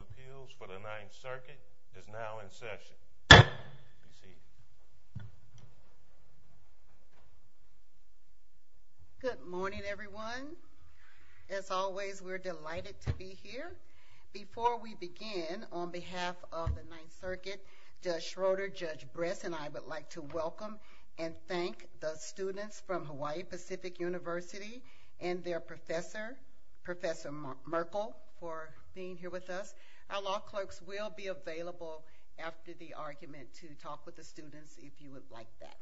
Appeals for the Ninth Circuit is now in session. Be seated. Good morning, everyone. As always, we're delighted to be here. Before we begin, on behalf of the Ninth Circuit, Judge Schroeder, Judge Bress, and I would like to welcome and thank the students from Hawaii Pacific University and their professor, Professor Merkel, for being here with us. Our law clerks will be available after the argument to talk with the students if you would like that.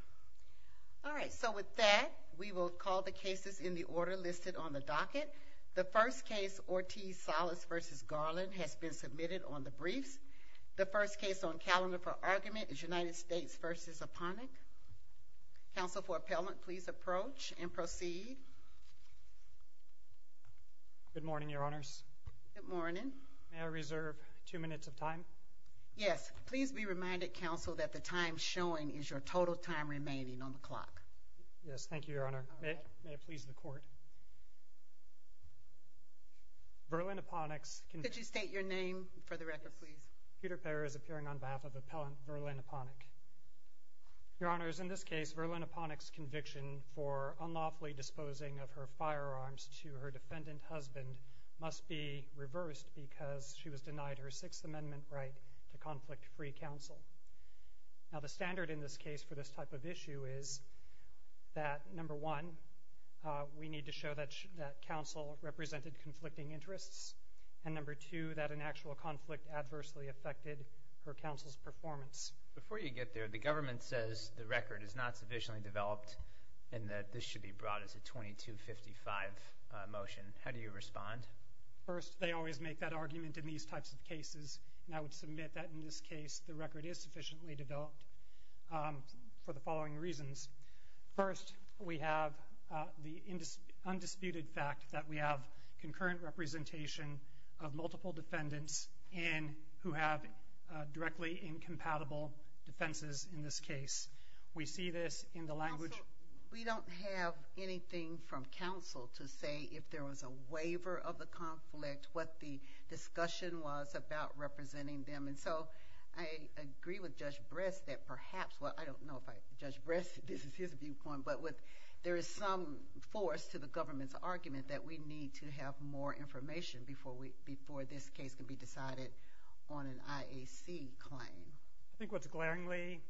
All right, so with that, we will call the cases in the order listed on the docket. The first case, Ortiz-Salas v. Garland, has been submitted on the briefs. The first case on calendar for argument is United States v. Aponik. Counsel for Appellant, please approach and proceed. Good morning, Your Honors. Good morning. May I reserve two minutes of time? Yes. Please be reminded, Counsel, that the time showing is your total time remaining on the clock. Yes, thank you, Your Honor. May it please the Court. Verlyn Aponik's... Could you state your name for the record, please? Peter Payer is appearing on behalf of Appellant Verlyn Aponik. Your Honors, in this case, Verlyn Aponik's conviction for unlawfully disposing of her firearms to her defendant husband must be reversed because she was denied her Sixth Amendment right to conflict-free counsel. Now, the standard in this case for this type of issue is that, number one, we need to show that counsel represented conflicting interests, and number two, that an actual conflict adversely affected her counsel's performance. Before you get there, the government says the record is not sufficiently developed and that this should be brought as a 2255 motion. How do you respond? First, they always make that argument in these types of cases, and I would submit that in this case the record is sufficiently developed for the following reasons. First, we have the undisputed fact that we have concurrent representation of multiple defendants who have directly incompatible defenses in this case. We see this in the language. Counsel, we don't have anything from counsel to say if there was a waiver of the conflict, what the discussion was about representing them, and so I agree with Judge Bress that perhaps, well, I don't know if Judge Bress, this is his viewpoint, but there is some force to the government's argument that we need to have more information before this case can be decided on an IAC claim. I think what's glaringly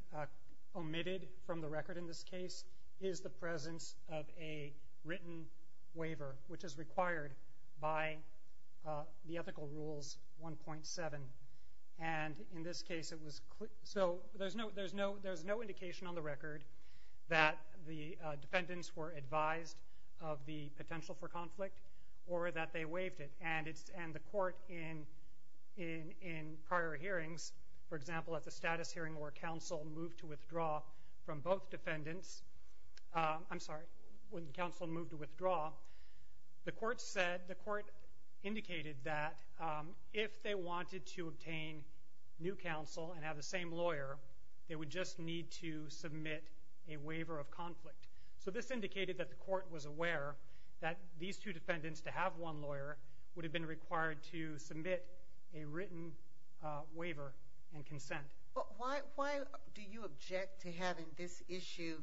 omitted from the record in this case is the presence of a written waiver, which is required by the Ethical Rules 1.7, and in this case it was clear. So there's no indication on the record that the defendants were advised of the potential for conflict or that they waived it, and the court in prior hearings, for example, at the status hearing where counsel moved to withdraw from both defendants, I'm sorry, when counsel moved to withdraw, the court said, the court indicated that if they wanted to obtain new counsel and have the same lawyer, they would just need to submit a waiver of conflict. So this indicated that the court was aware that these two defendants, to have one lawyer, would have been required to submit a written waiver and consent. Why do you object to having this issue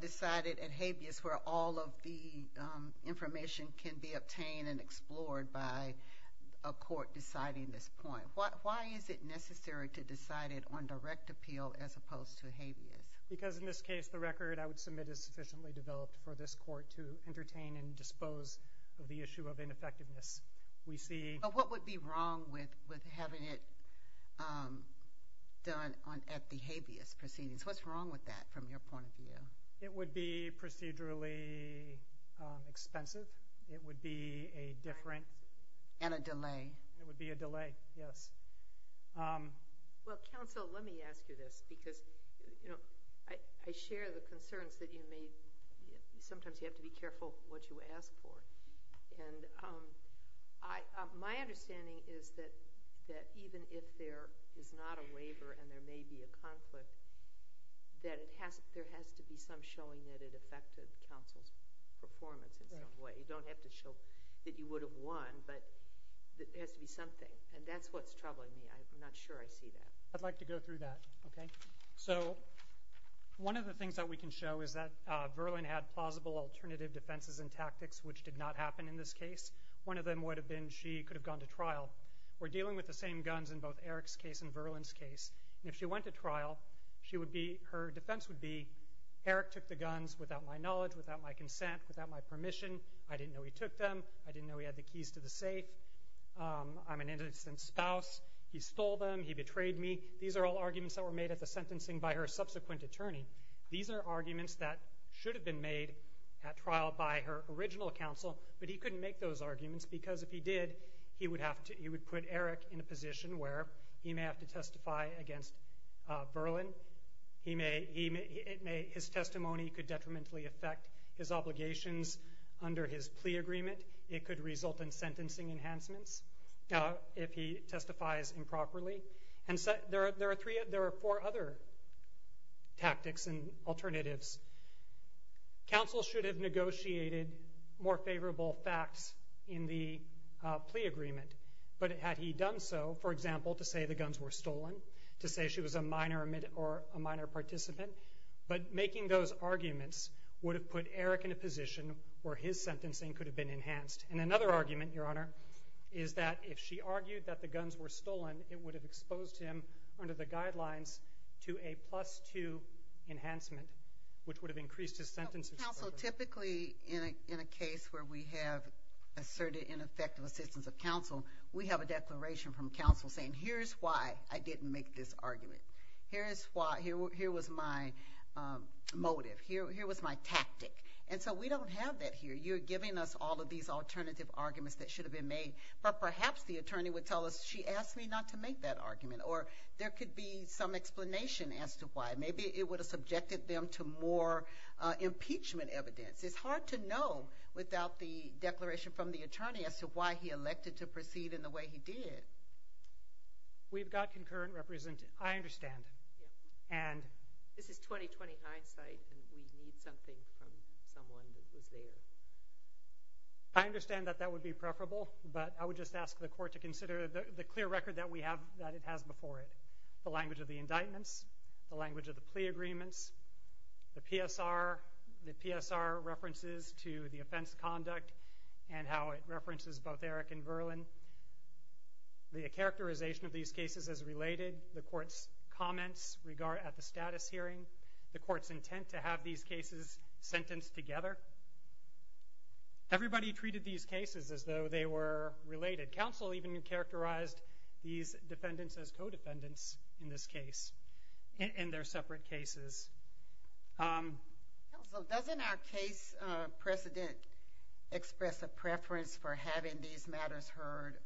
decided at habeas where all of the information can be obtained and explored by a court deciding this point? Why is it necessary to decide it on direct appeal as opposed to habeas? Because in this case the record I would submit is sufficiently developed for this court to entertain and dispose of the issue of ineffectiveness. What would be wrong with having it done at the habeas proceedings? What's wrong with that from your point of view? It would be procedurally expensive. It would be a different... And a delay. It would be a delay, yes. Well, counsel, let me ask you this because I share the concerns that you made. Sometimes you have to be careful what you ask for. And my understanding is that even if there is not a waiver and there may be a conflict, that there has to be some showing that it affected counsel's performance in some way. You don't have to show that you would have won, but there has to be something. And that's what's troubling me. I'm not sure I see that. I'd like to go through that, okay? So one of the things that we can show is that Verlin had plausible alternative defenses and tactics which did not happen in this case. One of them would have been she could have gone to trial. We're dealing with the same guns in both Eric's case and Verlin's case. And if she went to trial, her defense would be, Eric took the guns without my knowledge, without my consent, without my permission. I didn't know he took them. I didn't know he had the keys to the safe. I'm an innocent spouse. He stole them. He betrayed me. These are all arguments that were made at the sentencing by her subsequent attorney. These are arguments that should have been made at trial by her original counsel, but he couldn't make those arguments because if he did, he would put Eric in a position where he may have to testify against Verlin. His testimony could detrimentally affect his obligations under his plea agreement. It could result in sentencing enhancements if he testifies improperly. And there are four other tactics and alternatives. Counsel should have negotiated more favorable facts in the plea agreement, but had he done so, for example, to say the guns were stolen, to say she was a minor or a minor participant, could have been enhanced. And another argument, Your Honor, is that if she argued that the guns were stolen, it would have exposed him under the guidelines to a plus-two enhancement, which would have increased his sentences. Counsel, typically in a case where we have asserted ineffective assistance of counsel, we have a declaration from counsel saying, Here's why I didn't make this argument. Here was my motive. Here was my tactic. And so we don't have that here. You're giving us all of these alternative arguments that should have been made. But perhaps the attorney would tell us, She asked me not to make that argument. Or there could be some explanation as to why. Maybe it would have subjected them to more impeachment evidence. It's hard to know without the declaration from the attorney as to why he elected to proceed in the way he did. We've got concurrent representatives. I understand. This is 2029 site, and we need something from someone that was there. I understand that that would be preferable, but I would just ask the court to consider the clear record that it has before it, the language of the indictments, the language of the plea agreements, the PSR, the PSR references to the offense conduct and how it references both Eric and Verlin, the characterization of these cases as related, the court's comments at the status hearing, the court's intent to have these cases sentenced together. Everybody treated these cases as though they were related. Counsel even characterized these defendants as co-defendants in this case, in their separate cases. Counsel, doesn't our case precedent express a preference for having these matters heard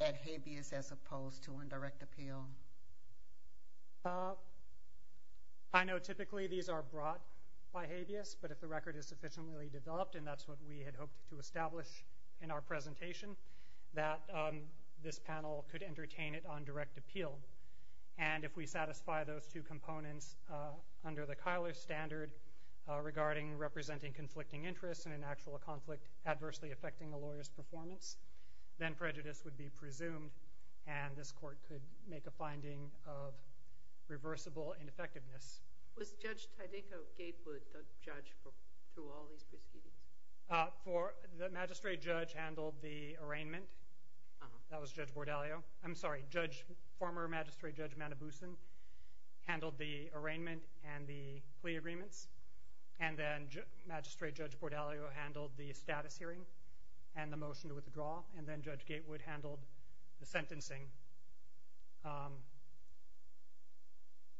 at habeas as opposed to on direct appeal? I know typically these are brought by habeas, but if the record is sufficiently developed, and that's what we had hoped to establish in our presentation, that this panel could entertain it on direct appeal. And if we satisfy those two components under the Keilor standard regarding representing conflicting interests in an actual conflict adversely affecting the lawyer's performance, then prejudice would be presumed, and this court could make a finding of reversible ineffectiveness. Was Judge Tydenko Gatewood the judge for all these proceedings? The magistrate judge handled the arraignment. That was Judge Bordalio. I'm sorry, former Magistrate Judge Manobusan handled the arraignment and the plea agreements, and then Magistrate Judge Bordalio handled the status hearing and the motion to withdraw, and then Judge Gatewood handled the sentencing.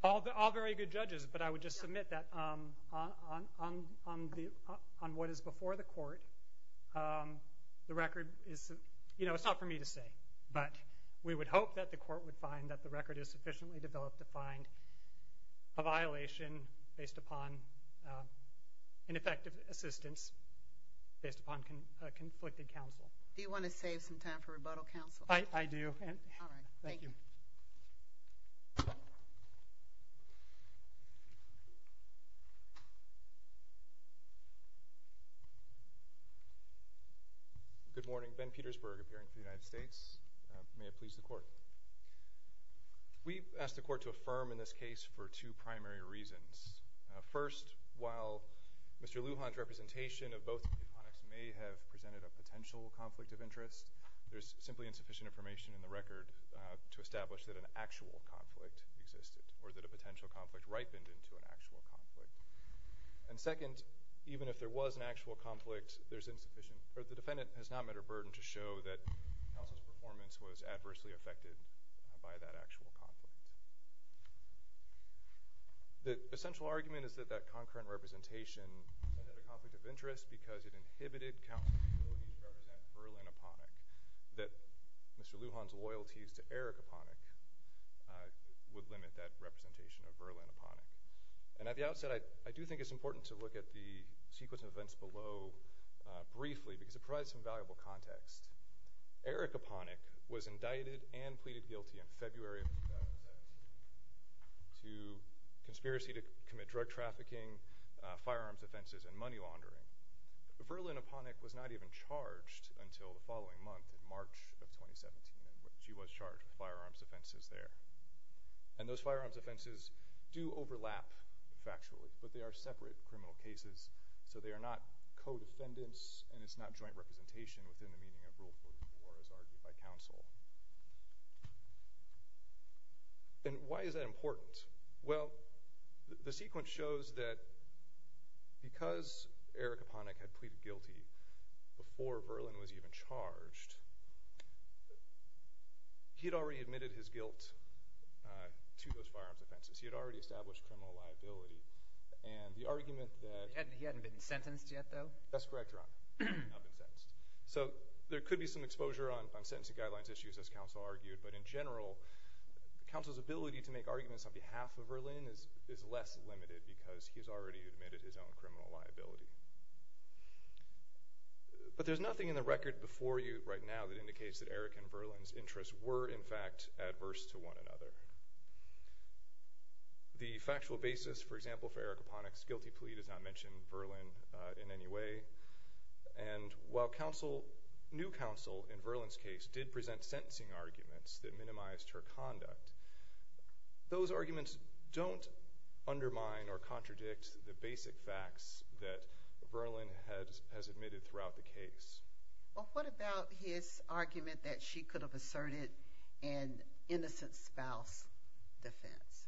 All very good judges, but I would just submit that on what is before the court, the record is, you know, it's not for me to say, but we would hope that the court would find that the record is sufficiently developed to find a violation based upon ineffective assistance based upon a conflicted counsel. Do you want to save some time for rebuttal, counsel? I do. All right. Thank you. Good morning. Ben Petersburg, appearing for the United States. May it please the court. We've asked the court to affirm in this case for two primary reasons. First, while Mr. Lujan's representation of both of the opponents may have presented a potential conflict of interest, there's simply insufficient information in the record to establish that an actual conflict existed or that a potential conflict ripened into an actual conflict. And second, even if there was an actual conflict, the defendant has not met her burden to show that by that actual conflict. The essential argument is that that concurrent representation had a conflict of interest because it inhibited counsel's ability to represent Verlaine Aponik, that Mr. Lujan's loyalties to Erika Aponik would limit that representation of Verlaine Aponik. And at the outset, I do think it's important to look at the sequence of events below briefly because it provides some valuable context. Erika Aponik was indicted and pleaded guilty in February of 2017 to conspiracy to commit drug trafficking, firearms offenses, and money laundering. Verlaine Aponik was not even charged until the following month in March of 2017. She was charged with firearms offenses there. And those firearms offenses do overlap factually, but they are separate criminal cases, so they are not co-defendants and it's not joint representation within the meaning of Rule 44 as argued by counsel. And why is that important? Well, the sequence shows that because Erika Aponik had pleaded guilty before Verlaine was even charged, he had already admitted his guilt to those firearms offenses. He had already established criminal liability. And the argument that— He hadn't been sentenced yet, though? That's correct, Your Honor. He had not been sentenced. So there could be some exposure on sentencing guidelines issues, as counsel argued, but in general, counsel's ability to make arguments on behalf of Verlaine is less limited because he has already admitted his own criminal liability. But there's nothing in the record before you right now that indicates that Erika and Verlaine's interests were, in fact, adverse to one another. The factual basis, for example, for Erika Aponik's guilty plea does not mention Verlaine in any way. And while new counsel in Verlaine's case did present sentencing arguments that minimized her conduct, those arguments don't undermine or contradict the basic facts that Verlaine has admitted throughout the case. Well, what about his argument that she could have asserted an innocent spouse defense?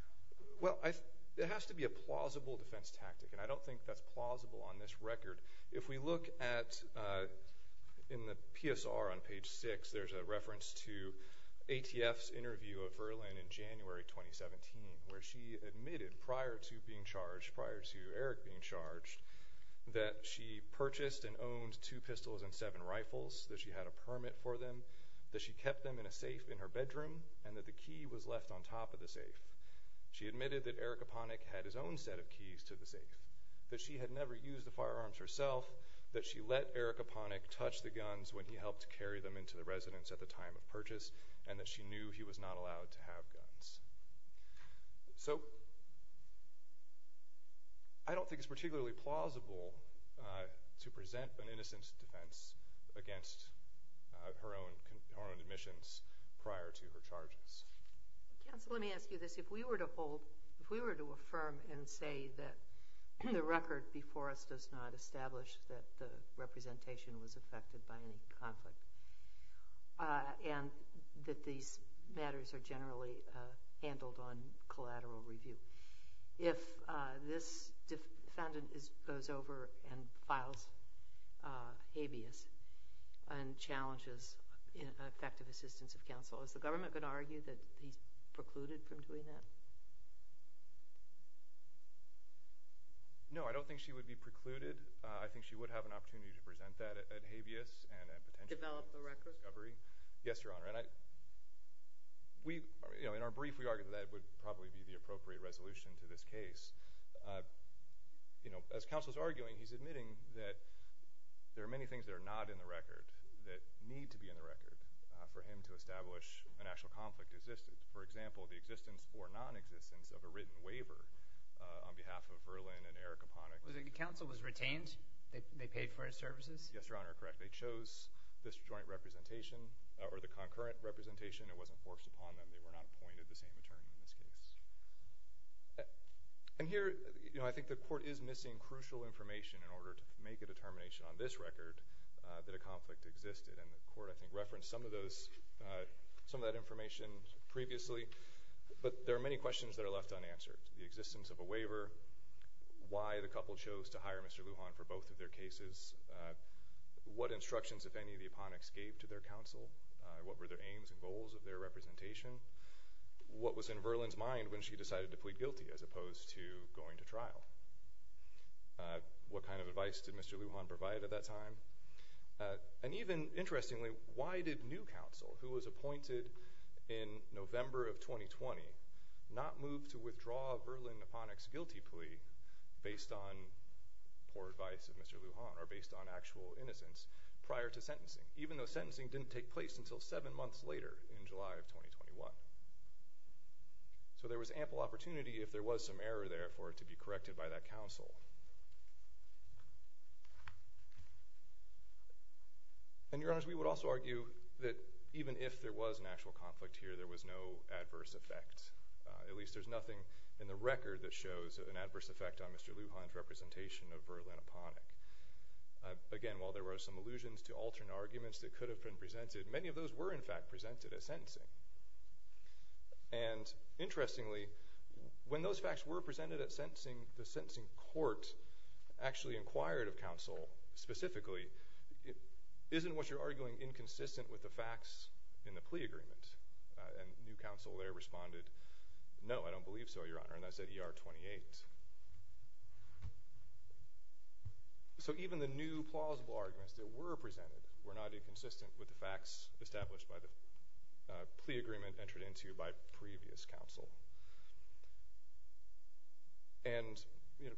Well, it has to be a plausible defense tactic, and I don't think that's plausible on this record. If we look at—in the PSR on page 6, there's a reference to ATF's interview of Verlaine in January 2017, where she admitted prior to being charged, prior to Eric being charged, that she purchased and owned two pistols and seven rifles, that she had a permit for them, that she kept them in a safe in her bedroom, and that the key was left on top of the safe. She admitted that Erika Aponik had his own set of keys to the safe, that she had never used the firearms herself, that she let Erika Aponik touch the guns when he helped carry them into the residence at the time of purchase, and that she knew he was not allowed to have guns. So I don't think it's particularly plausible to present an innocent defense against her own admissions prior to her charges. Counsel, let me ask you this. If we were to hold—if we were to affirm and say that the record before us does not establish that the representation was affected by any conflict and that these matters are generally handled on collateral review, if this defendant goes over and files habeas and challenges effective assistance of counsel, is the government going to argue that he's precluded from doing that? No, I don't think she would be precluded. I think she would have an opportunity to present that at habeas and a potential discovery. Develop the record? Yes, Your Honor. And I—we—you know, in our brief, we argued that that would probably be the appropriate resolution to this case. You know, as counsel's arguing, he's admitting that there are many things that are not in the record that need to be in the record for him to establish a national conflict existence. For example, the existence or nonexistence of a written waiver on behalf of Verlin and Erika Aponik. The counsel was retained? They paid for his services? Yes, Your Honor, correct. They chose this joint representation or the concurrent representation. It wasn't forced upon them. They were not appointed the same attorney in this case. And here, you know, I think the court is missing crucial information in order to make a determination on this record that a conflict existed. And the court, I think, referenced some of those—some of that information previously. But there are many questions that are left unanswered. The existence of a waiver. Why the couple chose to hire Mr. Lujan for both of their cases. What instructions, if any, did Aponik give to their counsel? What were their aims and goals of their representation? What was in Verlin's mind when she decided to plead guilty as opposed to going to trial? What kind of advice did Mr. Lujan provide at that time? And even, interestingly, why did new counsel, who was appointed in November of 2020, not move to withdraw Verlin Aponik's guilty plea based on poor advice of Mr. Lujan or based on actual innocence prior to sentencing, even though sentencing didn't take place until seven months later in July of 2021? So there was ample opportunity, if there was some error there, for it to be corrected by that counsel. And, Your Honors, we would also argue that even if there was an actual conflict here, there was no adverse effect. At least there's nothing in the record that shows an adverse effect on Mr. Lujan's representation of Verlin Aponik. Again, while there were some allusions to alternate arguments that could have been presented, many of those were, in fact, presented at sentencing. And, interestingly, when those facts were presented at sentencing, the sentencing court actually inquired of counsel specifically, isn't what you're arguing inconsistent with the facts in the plea agreement? And new counsel there responded, no, I don't believe so, Your Honor. And that's at ER 28. So even the new plausible arguments that were presented were not inconsistent with the facts established by the plea agreement entered into by previous counsel. And, you know,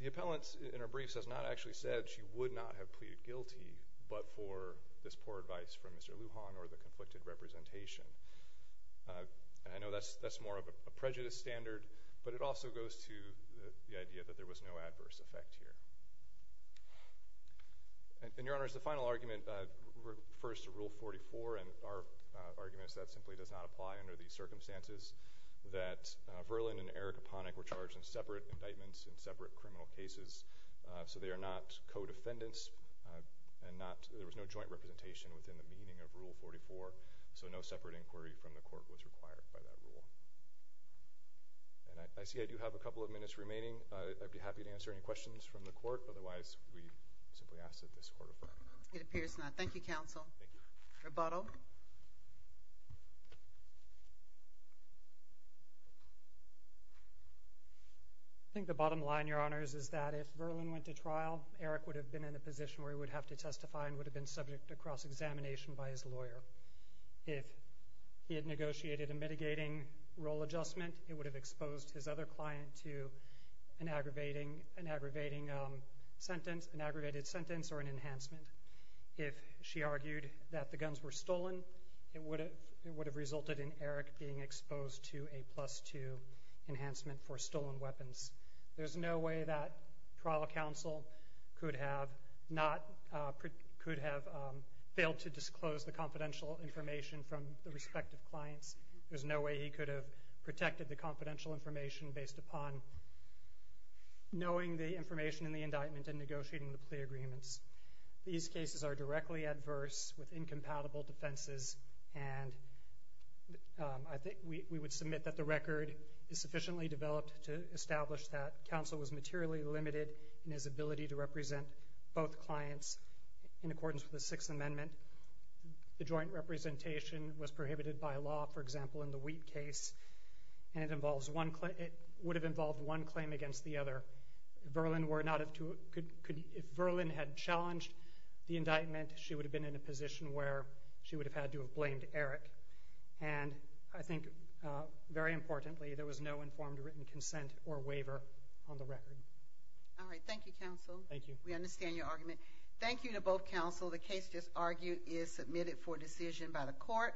the appellant in her briefs has not actually said she would not have pleaded guilty but for this poor advice from Mr. Lujan or the conflicted representation. And I know that's more of a prejudice standard, but it also goes to the idea that there was no adverse effect here. And, Your Honors, the final argument refers to Rule 44, and our argument is that simply does not apply under these circumstances. That Verlin and Erika Ponick were charged in separate indictments in separate criminal cases, so they are not co-defendants, and there was no joint representation within the meaning of Rule 44, so no separate inquiry from the court was required by that rule. And I see I do have a couple of minutes remaining. I'd be happy to answer any questions from the court. Otherwise, we simply ask that this court refer. It appears not. Thank you, counsel. Rebuttal. I think the bottom line, Your Honors, is that if Verlin went to trial, Erik would have been in a position where he would have to testify and would have been subject to cross-examination by his lawyer. If he had negotiated a mitigating role adjustment, it would have exposed his other client to an aggravating sentence, an aggravated sentence or an enhancement. If she argued that the guns were stolen, it would have resulted in Erik being exposed to a plus-two enhancement for stolen weapons. There's no way that trial counsel could have failed to disclose the confidential information from the respective clients. There's no way he could have protected the confidential information based upon knowing the information in the indictment and negotiating the plea agreements. These cases are directly adverse with incompatible defenses, and I think we would submit that the record is sufficiently developed to establish that counsel was materially limited in his ability to represent both clients in accordance with the Sixth Amendment. The joint representation was prohibited by law, for example, in the Wheat case, and it would have involved one claim against the other. If Verlin had challenged the indictment, she would have been in a position where she would have had to have blamed Erik. And I think, very importantly, there was no informed written consent or waiver on the record. All right. Thank you, counsel. Thank you. We understand your argument. Thank you to both counsel. The case just argued is submitted for decision by the court.